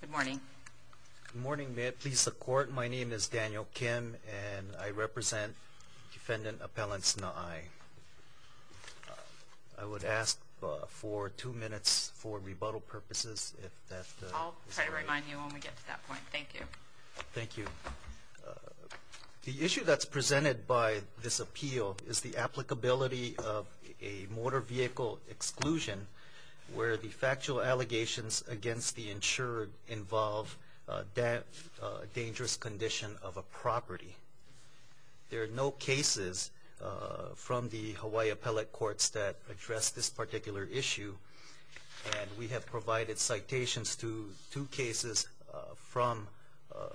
Good morning. Good morning. May it please the court, my name is Daniel Kim and I represent defendant appellants Naai. I would ask for two minutes for rebuttal purposes. I'll try to remind you when we get to that point. Thank you. Thank you. The issue that's presented by this appeal is the applicability of a motor vehicle exclusion where the factual allegations against the insured involve that dangerous condition of a property. There are no cases from the Hawaii Appellate Courts that address this particular issue and we have provided citations to two cases from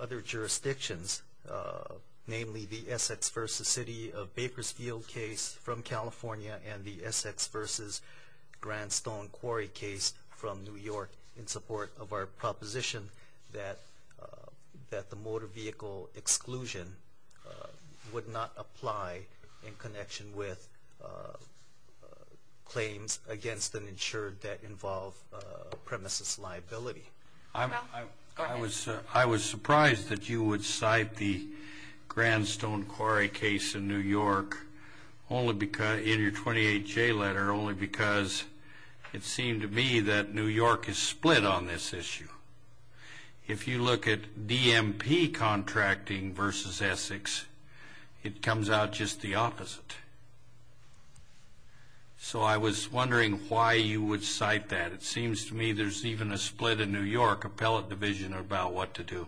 other jurisdictions, namely the Essex v. City Bakersfield case from California and the Essex v. Grandstone Quarry case from New York in support of our proposition that the motor vehicle exclusion would not apply in connection with claims against an insured that involve premises liability. I was surprised that you would cite the Grandstone Quarry case in New York only because, in your 28J letter, only because it seemed to me that New York is split on this issue. If you look at DMP contracting versus Essex, it comes out just the opposite. So I was wondering why you would cite that. It seems to me there's even a split in New York Appellate Division about what to do.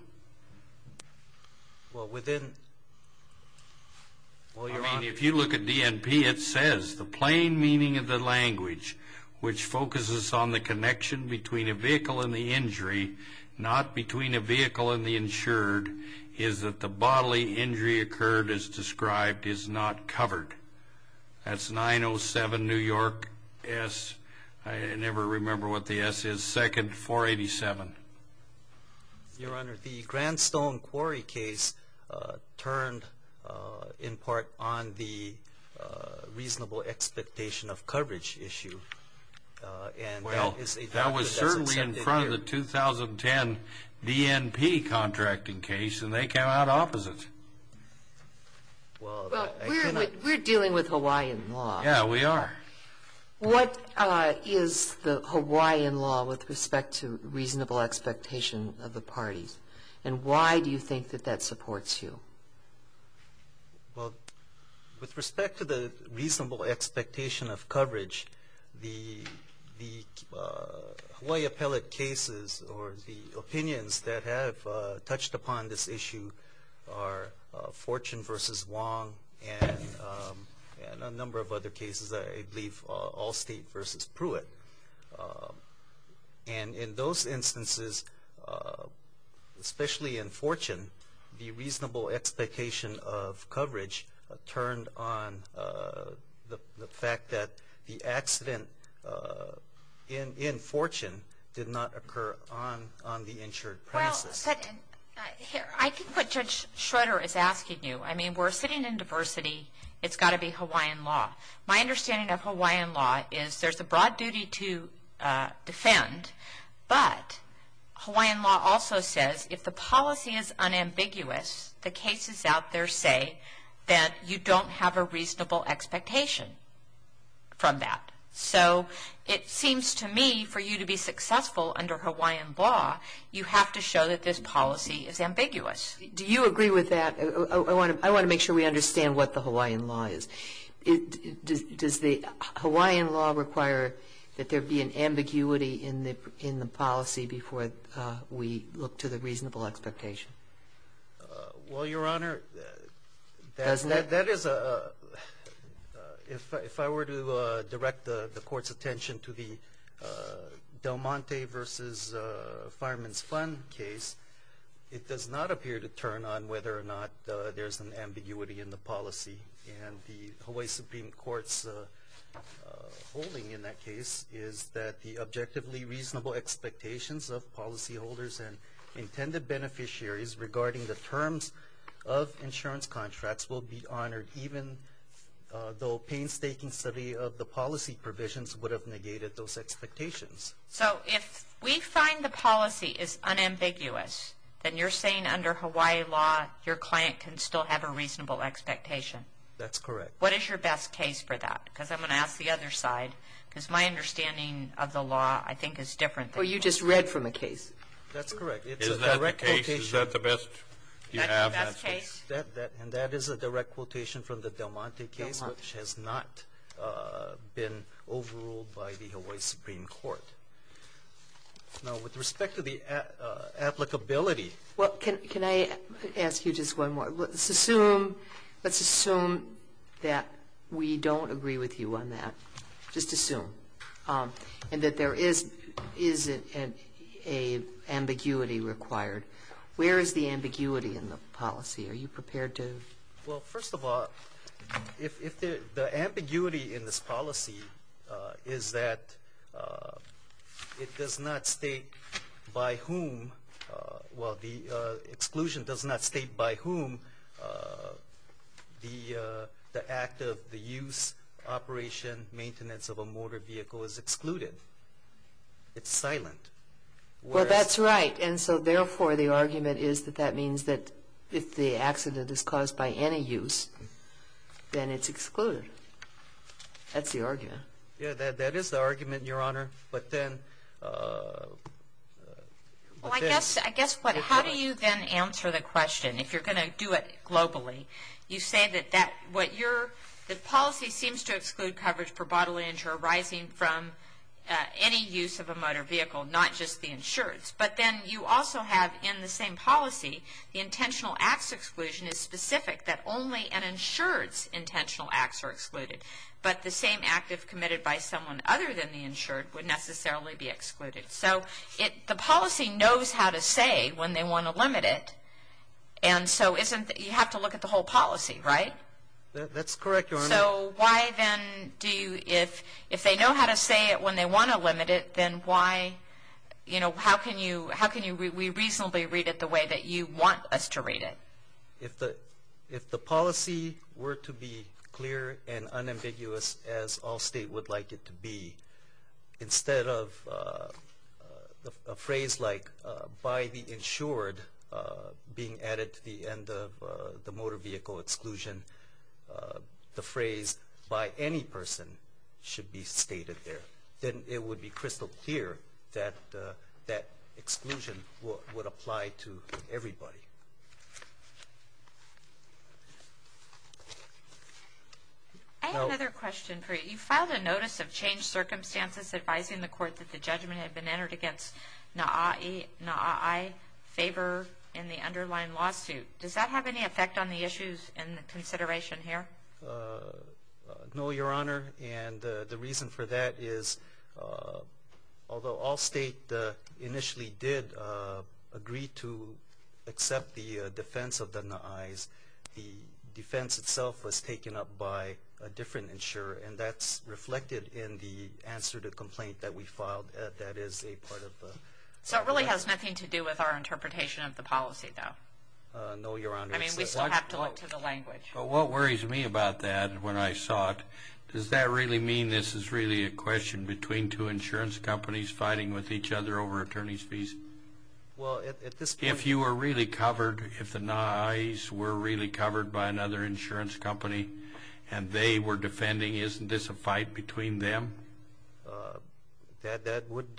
If you look at DMP, it says the plain meaning of the language which focuses on the connection between a vehicle and the injury, not between a vehicle and the insured, is that the bodily injury occurred as described is not covered. That's 907 New York S, I never remember what the S is, but it's the second 487. Your Honor, the Grandstone Quarry case turned in part on the reasonable expectation of coverage issue. Well, that was certainly in front of the 2010 DMP contracting case, and they came out opposite. We're dealing with Hawaiian law. Yeah, we are. What is the Hawaiian law with respect to reasonable expectation of the parties, and why do you think that that supports you? Well, with respect to the reasonable expectation of coverage, the Hawaii appellate cases or the opinions that have touched upon this issue are Fortune versus Wong and a number of other cases. I believe Allstate versus Pruitt, and in those instances, especially in Fortune, the reasonable expectation of coverage turned on the fact that the accident in Fortune did not occur on the insured premises. I think what Judge Schroeder is asking you, I mean, we're sitting in Hawaii. My understanding of Hawaiian law is there's a broad duty to defend, but Hawaiian law also says if the policy is unambiguous, the cases out there say that you don't have a reasonable expectation from that, so it seems to me for you to be successful under Hawaiian law, you have to show that this policy is ambiguous. Do you agree with that? I want to make sure we The Hawaiian law require that there be an ambiguity in the policy before we look to the reasonable expectation. Well, Your Honor, that is a, if I were to direct the Court's attention to the Del Monte versus Fireman's Fund case, it does not appear to turn on whether or not there's an ambiguity in the policy. And the Hawaii Supreme Court's holding in that case is that the objectively reasonable expectations of policyholders and intended beneficiaries regarding the terms of insurance contracts will be honored even though painstaking study of the policy provisions would have negated those expectations. So if we find the policy is unambiguous, then you're saying under Hawaii law, your client can still have a reasonable expectation? That's correct. What is your best case for that? Because I'm going to ask the other side, because my understanding of the law, I think, is different. Well, you just read from the case. That's correct. It's a direct quotation. Is that the best you have? And that is a direct quotation from the Del Monte case, which has not been overruled by the Hawaii Supreme Court. Now, with respect to the applicability. Well, can I ask you just one more? Let's assume that we don't agree with you on that, just assume, and that there is an ambiguity required. Where is the ambiguity in the policy? Are you prepared to? Well, first of all, if the ambiguity in this policy is that it does not state by whom, well, the exclusion does not state by whom the act of the use, operation, maintenance of a motor vehicle is excluded. It's silent. Well, that's right. And so, therefore, the argument is that that means that if the accident is caused by any use, then it's excluded. That's the argument. Yeah, that is the argument, Your Honor. But then. Well, I guess, I guess what, how do you then answer the question? If you're going to do it globally, you say that that what you're the policy seems to exclude coverage for bodily injury arising from any use of a motor vehicle, not just the insurance. But then you also have in the same policy, the intentional acts exclusion is specific that only an insured's intentional acts are excluded. But the same act if committed by someone other than the insured would necessarily be excluded. So, it, the policy knows how to say when they want to limit it, and so isn't, you have to look at the whole policy, right? That's correct, Your Honor. So, why then do you, if, if they know how to say it when they want to limit it, then why, you know, how can you, how can you, we reasonably read it the way that you want us to read it? If the, if the policy were to be clear and unambiguous as all state would like it to be, instead of a phrase like by the insured being added to the end of the motor vehicle exclusion. The phrase by any person should be stated there. Then it would be crystal clear that that exclusion would apply to everybody. I have another question for you. You filed a notice of changed circumstances advising the court that the judgment had been entered against NAAI, NAAI favor in the underlying lawsuit. Does that have any effect on the issues in the consideration here? No, Your Honor, and the reason for that is, although all state initially did agree to accept the defense of the NAAIs, the defense itself was taken up by a different insurer, and that's reflected in the answer to the complaint that we filed. That is a part of the. So, it really has nothing to do with our interpretation of the policy, though. No, Your Honor. I mean, we still have to look to the language. But what worries me about that, when I saw it, does that really mean this is really a question between two insurance companies fighting with each other over attorney's fees? Well, at this point. If you were really covered, if the NAAIs were really covered by another insurance company and they were defending, isn't this a fight between them? That would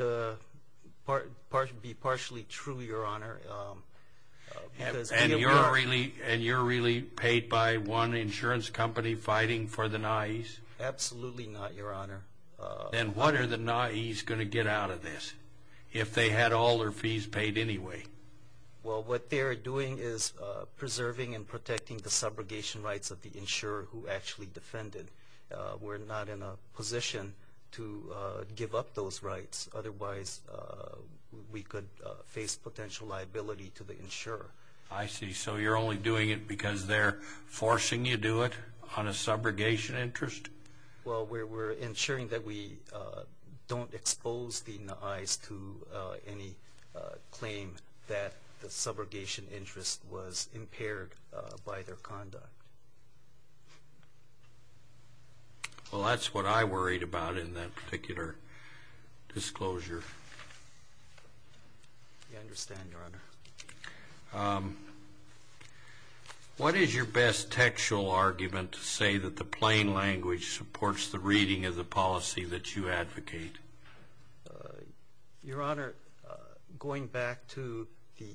be partially true, Your Honor. And you're really paid by one insurance company fighting for the NAAIs? Absolutely not, Your Honor. Then what are the NAAIs going to get out of this, if they had all their fees paid anyway? Well, what they are doing is preserving and protecting the subrogation rights of the insurer who actually defended. We're not in a position to give up those rights. Otherwise, we could face potential liability to the insurer. I see. So you're only doing it because they're forcing you to do it on a subrogation interest? Well, we're ensuring that we don't expose the NAAIs to any claim that the subrogation interest was impaired by their conduct. Well, that's what I worried about in that particular disclosure. I understand, Your Honor. What is your best textual argument to say that the plain language supports the reading of the policy that you advocate? Your Honor, going back to the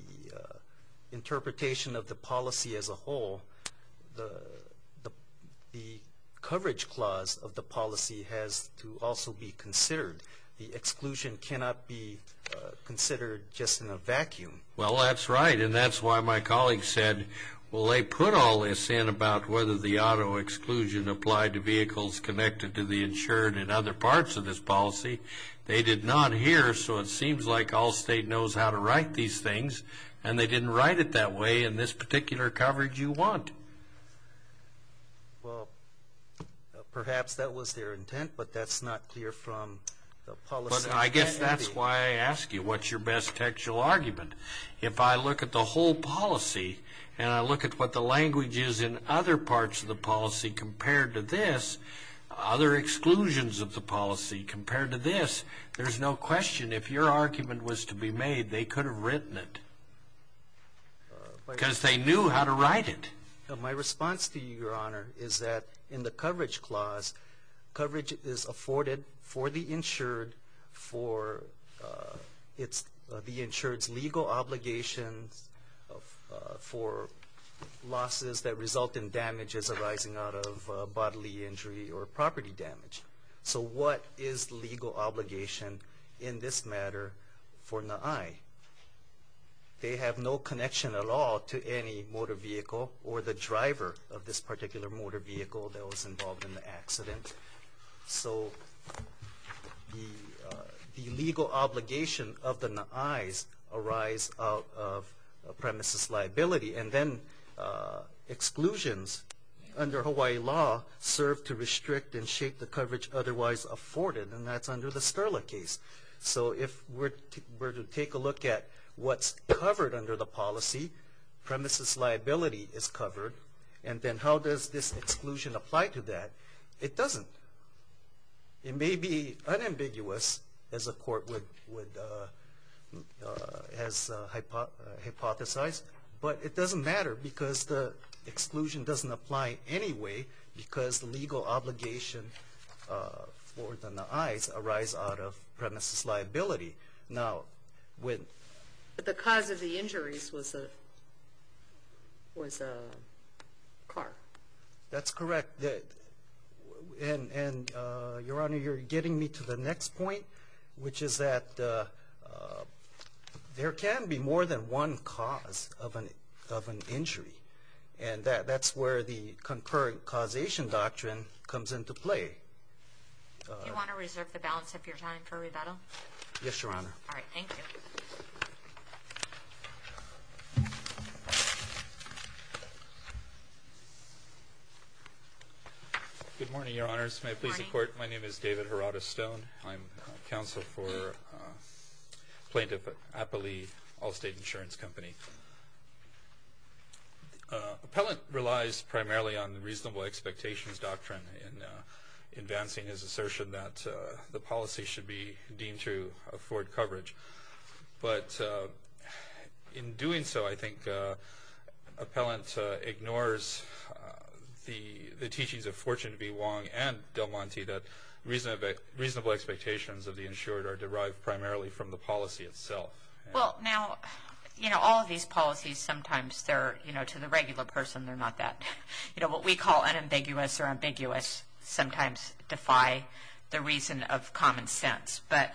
interpretation of the policy as a whole, the coverage clause of the policy has to also be considered. The exclusion cannot be considered just in a vacuum. Well, that's right. And that's why my colleague said, well, they put all this in about whether the auto exclusion applied to vehicles connected to the insured in other parts of this policy. They did not hear. So it seems like all state knows how to write these things. And they didn't write it that way in this particular coverage you want. Well, perhaps that was their intent, but that's not clear from the policy. I guess that's why I ask you, what's your best textual argument? If I look at the whole policy and I look at what the language is in other parts of the policy compared to this, other exclusions of the policy compared to this, there's no question if your argument was to be made, they could have written it because they knew how to write it. My response to you, Your Honor, is that in the coverage clause, coverage is afforded for the insured for the insured's legal obligations for losses that result in damages arising out of bodily injury or property damage. So what is legal obligation in this matter for NAAI? They have no connection at all to any motor vehicle or the driver of this particular motor vehicle that was involved in the accident. So the legal obligation of the NAAIs arise out of a premises liability and then exclusions under Hawaii law serve to restrict and shake the coverage otherwise afforded, and that's under the Sterla case. So if we're to take a look at what's covered under the policy, premises liability is covered, and then how does this exclusion apply to that? It doesn't. It may be unambiguous as a court would hypothesize, but it doesn't matter because the exclusion doesn't apply anyway because the legal obligation for the NAAIs arise out of premises liability. Now, when... But the cause of the injuries was a car. That's correct, and Your Honor, you're getting me to the next point, which is that there can be more than one cause of an injury, and that's where the concurrent causation doctrine comes into play. You want to reserve the balance of your time for rebuttal? Yes, Your Honor. All right. Thank you. Good morning, Your Honors. Good morning. My name is David Herada-Stone. I'm counsel for Plaintiff Appalee Allstate Insurance Company. Appellant relies primarily on the reasonable expectations doctrine in advancing his assertion that the policy should be deemed to afford coverage, but in doing so, I think Appellant ignores the teachings of Fortune V. Wong and Del Monte that reasonable expectations of the insured are derived primarily from the policy itself. Well, now, you know, all of these policies sometimes, they're, you know, to the regular person, they're not that, you know, what we call unambiguous or ambiguous sometimes defy the reason of common sense. But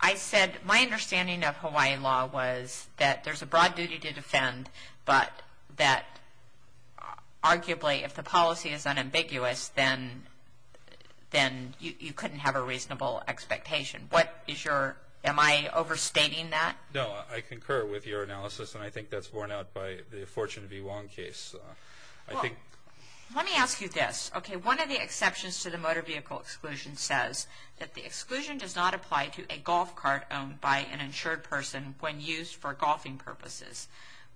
I said my understanding of Hawaii law was that there's a broad duty to defend, but that arguably if the policy is unambiguous, then you couldn't have a reasonable expectation. What is your, am I overstating that? No, I concur with your analysis, and I think that's borne out by the Fortune V. Wong case. Well, let me ask you this. Okay, one of the exceptions to the motor vehicle exclusion says that the exclusion does not apply to a golf cart owned by an insured person when used for golfing purposes.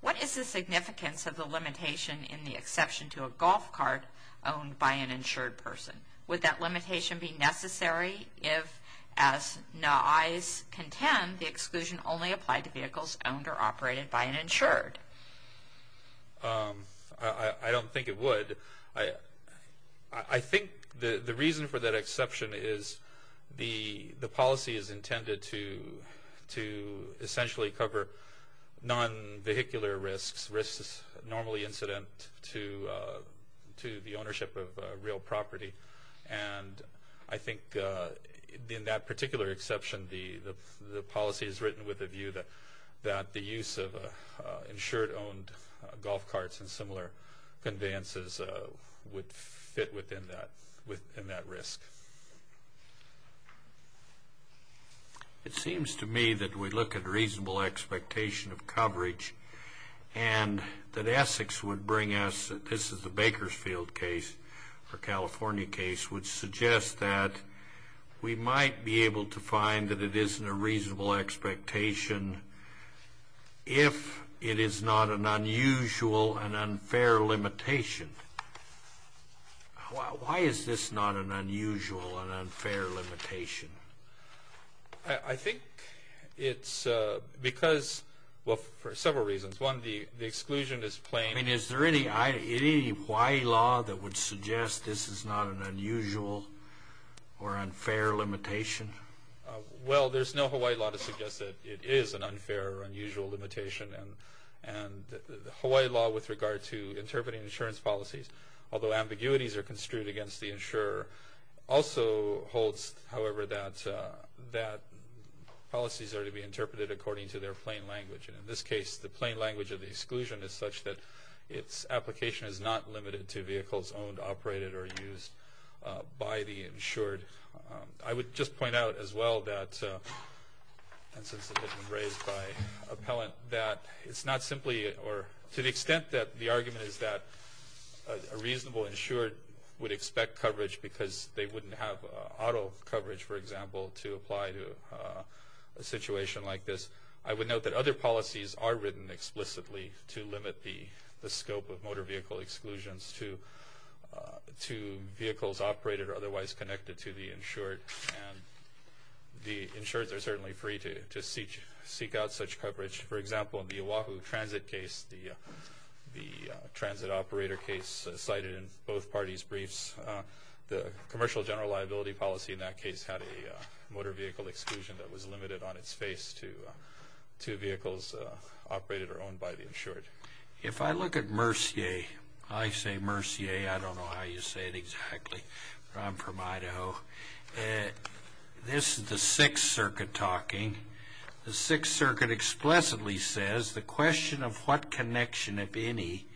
What is the significance of the limitation in the exception to a golf cart owned by an insured person? Would that limitation be necessary if, as NAAI's contend, the exclusion only applied to vehicles owned or operated by an insured? I don't think it would. I think the reason for that exception is the policy is intended to essentially cover non-vehicular risks, risks normally incident to the ownership of real property. And I think in that particular exception, the policy is written with a view that the use of insured-owned golf carts and similar conveyances would fit within that risk. It seems to me that we look at reasonable expectation of coverage and that Essex would bring us, this is the Bakersfield case, or California case, would suggest that we might be able to find that it isn't a reasonable expectation if it is not an unusual and unfair limitation. Why is this not an unusual and unfair limitation? I think it's because, well, for several reasons. One, the exclusion is plain. I mean, is there any Hawaii law that would suggest this is not an unusual or unfair limitation? Well, there's no Hawaii law to suggest that it is an unfair or unusual limitation. And the Hawaii law with regard to interpreting insurance policies, although ambiguities are construed against the insurer, also holds, however, that policies are to be interpreted according to their plain language. And in this case, the plain language of the exclusion is such that its application is not limited to vehicles owned, operated, or used by the insured. I would just point out as well that, and since it has been raised by appellant, that it's not simply, or to the extent that the argument is that a reasonable insured would expect coverage because they wouldn't have auto coverage, for example, to apply to a situation like this, I would note that other policies are written explicitly to limit the scope of motor vehicle exclusions to vehicles operated or otherwise connected to the insured. And the insureds are certainly free to seek out such coverage. For example, in the Oahu transit case, the transit operator case cited in both parties' briefs, the commercial general liability policy in that case had a motor vehicle exclusion that was limited on its face to vehicles operated or owned by the insured. If I look at Mercier, I say Mercier, I don't know how you say it exactly, but I'm from Idaho. This is the Sixth Circuit talking. The Sixth Circuit explicitly says the question of what connection, if any,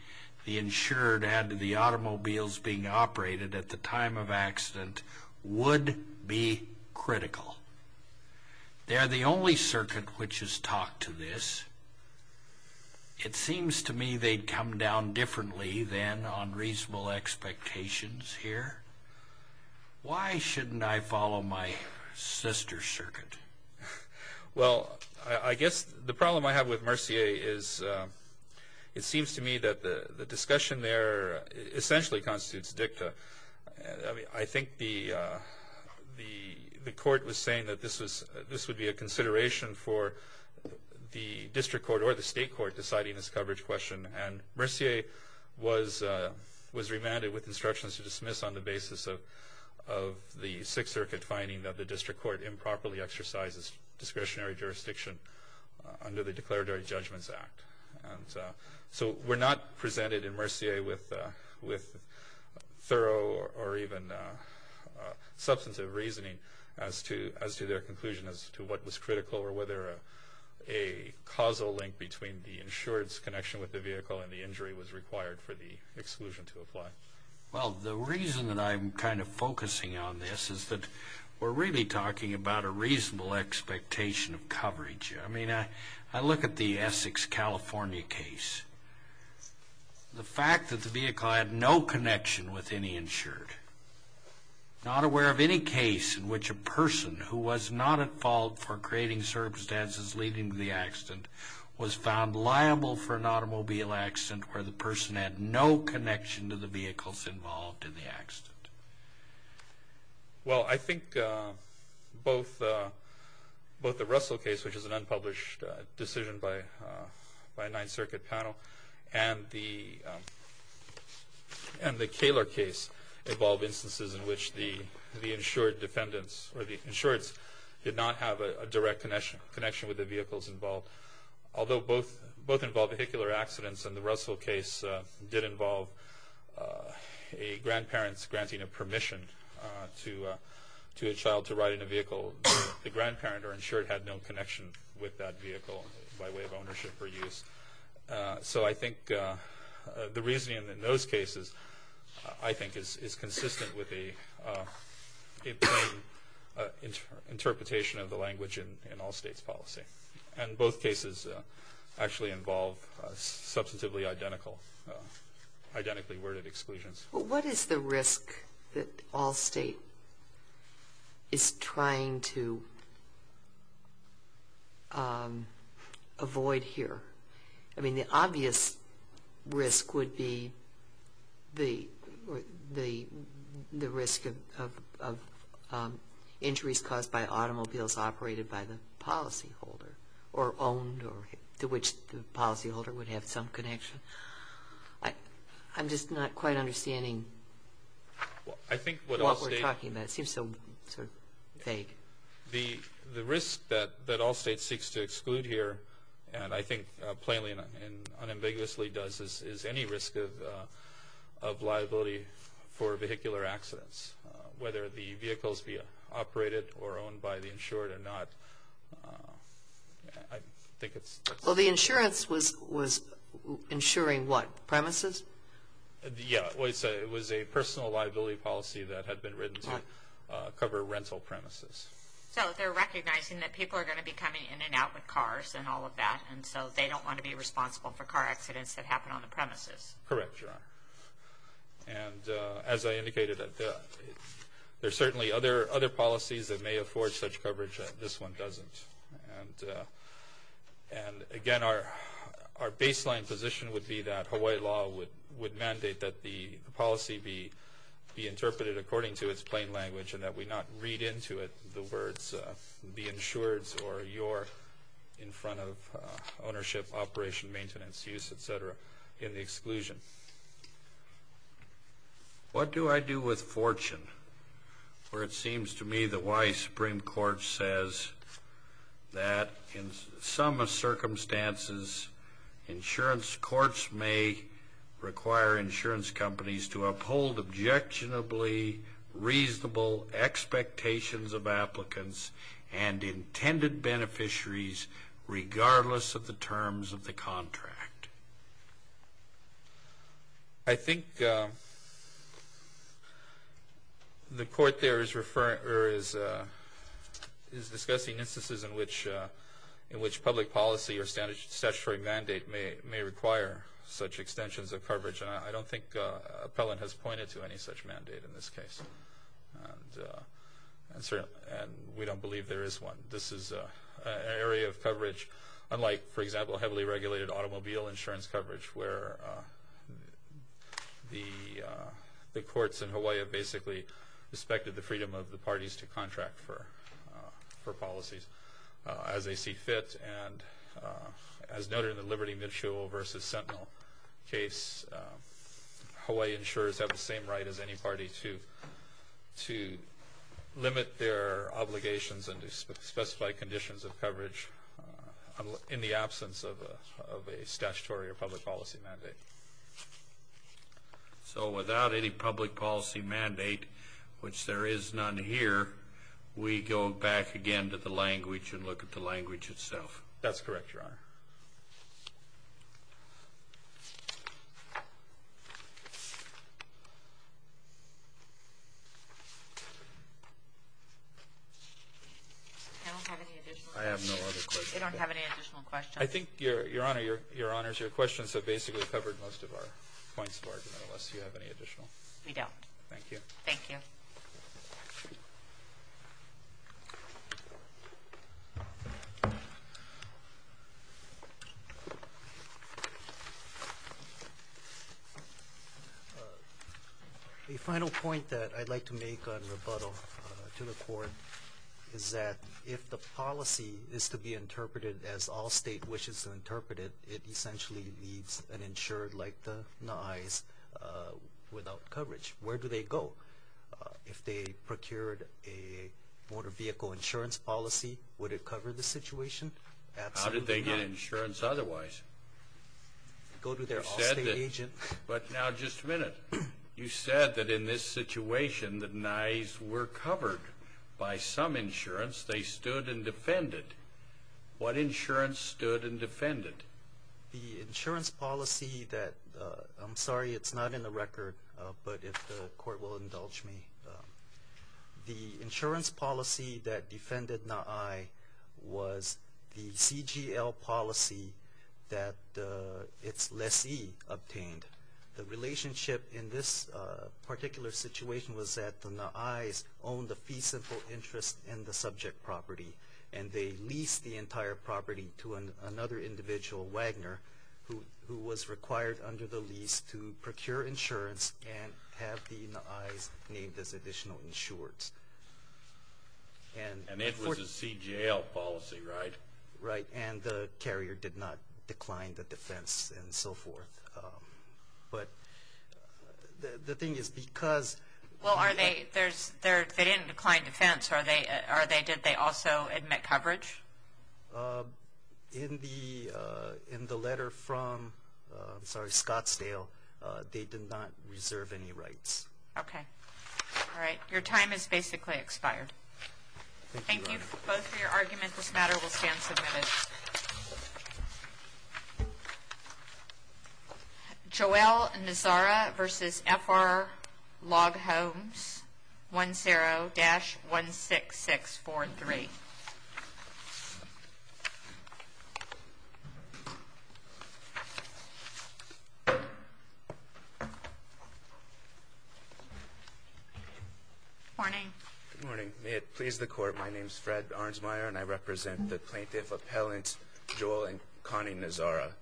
the insured had to the automobiles being operated at the time of accident would be critical. They are the only circuit which has talked to this. It seems to me they'd come down differently than on reasonable expectations here. Why shouldn't I follow my sister's circuit? Well, I guess the problem I have with Mercier is it seems to me that the discussion there essentially constitutes dicta. I think the court was saying that this would be a consideration for the district court or the state court deciding this coverage question, and Mercier was remanded with instructions to dismiss on the basis of the Sixth Circuit finding that the district court improperly exercises discretionary jurisdiction under the Declaratory Judgments Act. So we're not presented in Mercier with thorough or even substantive reasoning as to their conclusion as to what was critical or whether a causal link between the insured's connection with the vehicle and the injury was required for the exclusion to apply. Well, the reason that I'm kind of focusing on this is that we're really talking about a reasonable expectation of coverage. I mean, I look at the Essex, California case. The fact that the vehicle had no connection with any insured, not aware of any case in which a person who was not at fault for creating circumstances leading to the accident was found liable for an automobile accident where the person had no connection to the vehicles involved in the accident. Well, I think both the Russell case, which is an unpublished decision by a Ninth Circuit panel, and the Kaler case involve instances in which the insured defendants or the insureds did not have a direct connection with the vehicles involved, although both involve vehicular accidents, and the Russell case did involve a grandparent granting a permission to a child to ride in a vehicle. The grandparent or insured had no connection with that vehicle by way of ownership or use. So I think the reasoning in those cases, I think, is consistent with the interpretation of the language in all states' policy. And both cases actually involve substantively identical, identically worded exclusions. What is the risk that all state is trying to avoid here? I mean, the obvious risk would be the risk of injuries caused by automobiles operated by the policyholder or owned or to which the policyholder would have some connection. I'm just not quite understanding what we're talking about. It seems so vague. The risk that all states seeks to exclude here, and I think plainly and unambiguously does, is any risk of liability for vehicular accidents, whether the vehicles be operated or owned by the insured or not. Well, the insurance was insuring what, premises? Yeah, it was a personal liability policy that had been written to cover rental premises. So they're recognizing that people are going to be coming in and out with cars and all of that, and so they don't want to be responsible for car accidents that happen on the premises. Correct, Your Honor. And as I indicated, there are certainly other policies that may afford such coverage. This one doesn't. And, again, our baseline position would be that Hawaii law would mandate that the policy be interpreted according to its plain language and that we not read into it the words be insured or you're in front of ownership, operation, maintenance, use, et cetera, in the exclusion. What do I do with fortune? For it seems to me that Hawaii Supreme Court says that in some circumstances, insurance courts may require insurance companies to uphold objectionably reasonable expectations of applicants and intended beneficiaries regardless of the terms of the contract. I think the court there is discussing instances in which public policy or statutory mandate may require such extensions of coverage, and I don't think Appellant has pointed to any such mandate in this case. And we don't believe there is one. This is an area of coverage unlike, for example, heavily regulated automobile insurance coverage where the courts in Hawaii have basically respected the freedom of the parties to contract for policies as they see fit. And as noted in the Liberty Mitchell v. Sentinel case, Hawaii insurers have the same right as any party to limit their obligations and to specify conditions of coverage in the absence of a statutory or public policy mandate. So without any public policy mandate, which there is none here, we go back again to the language and look at the language itself. That's correct, Your Honor. I don't have any additional questions. I have no other questions. I don't have any additional questions. I think, Your Honor, Your Honors, your questions have basically covered most of our points of argument, unless you have any additional. We don't. Thank you. Thank you. Thank you. The final point that I'd like to make on rebuttal to the Court is that if the policy is to be interpreted as all state wishes to interpret it, it essentially leaves an insurer like the NISE without coverage. Where do they go? If they procured a motor vehicle insurance policy, would it cover the situation? Absolutely not. How did they get insurance otherwise? Go to their all state agent. But now just a minute. You said that in this situation the NISE were covered by some insurance. They stood and defended. What insurance stood and defended? The insurance policy that, I'm sorry, it's not in the record, but if the Court will indulge me, the insurance policy that defended NAAI was the CGL policy that its lessee obtained. The relationship in this particular situation was that the NISE owned the fee simple interest in the subject property, and they leased the entire property to another individual, Wagner, who was required under the lease to procure insurance and have the NISE named as additional insurers. And it was a CGL policy, right? Right. And the carrier did not decline the defense and so forth. But the thing is because... Well, they didn't decline defense. Did they also admit coverage? In the letter from, I'm sorry, Scottsdale, they did not reserve any rights. Okay. All right. Your time has basically expired. Thank you both for your argument. This matter will stand submitted. Joelle Nazara v. F.R. Log Homes, 10-16643. Good morning. Good morning. May it please the Court, my name is Fred Arnsmeyer, and I represent the plaintiff appellants Joelle and Connie Nazara.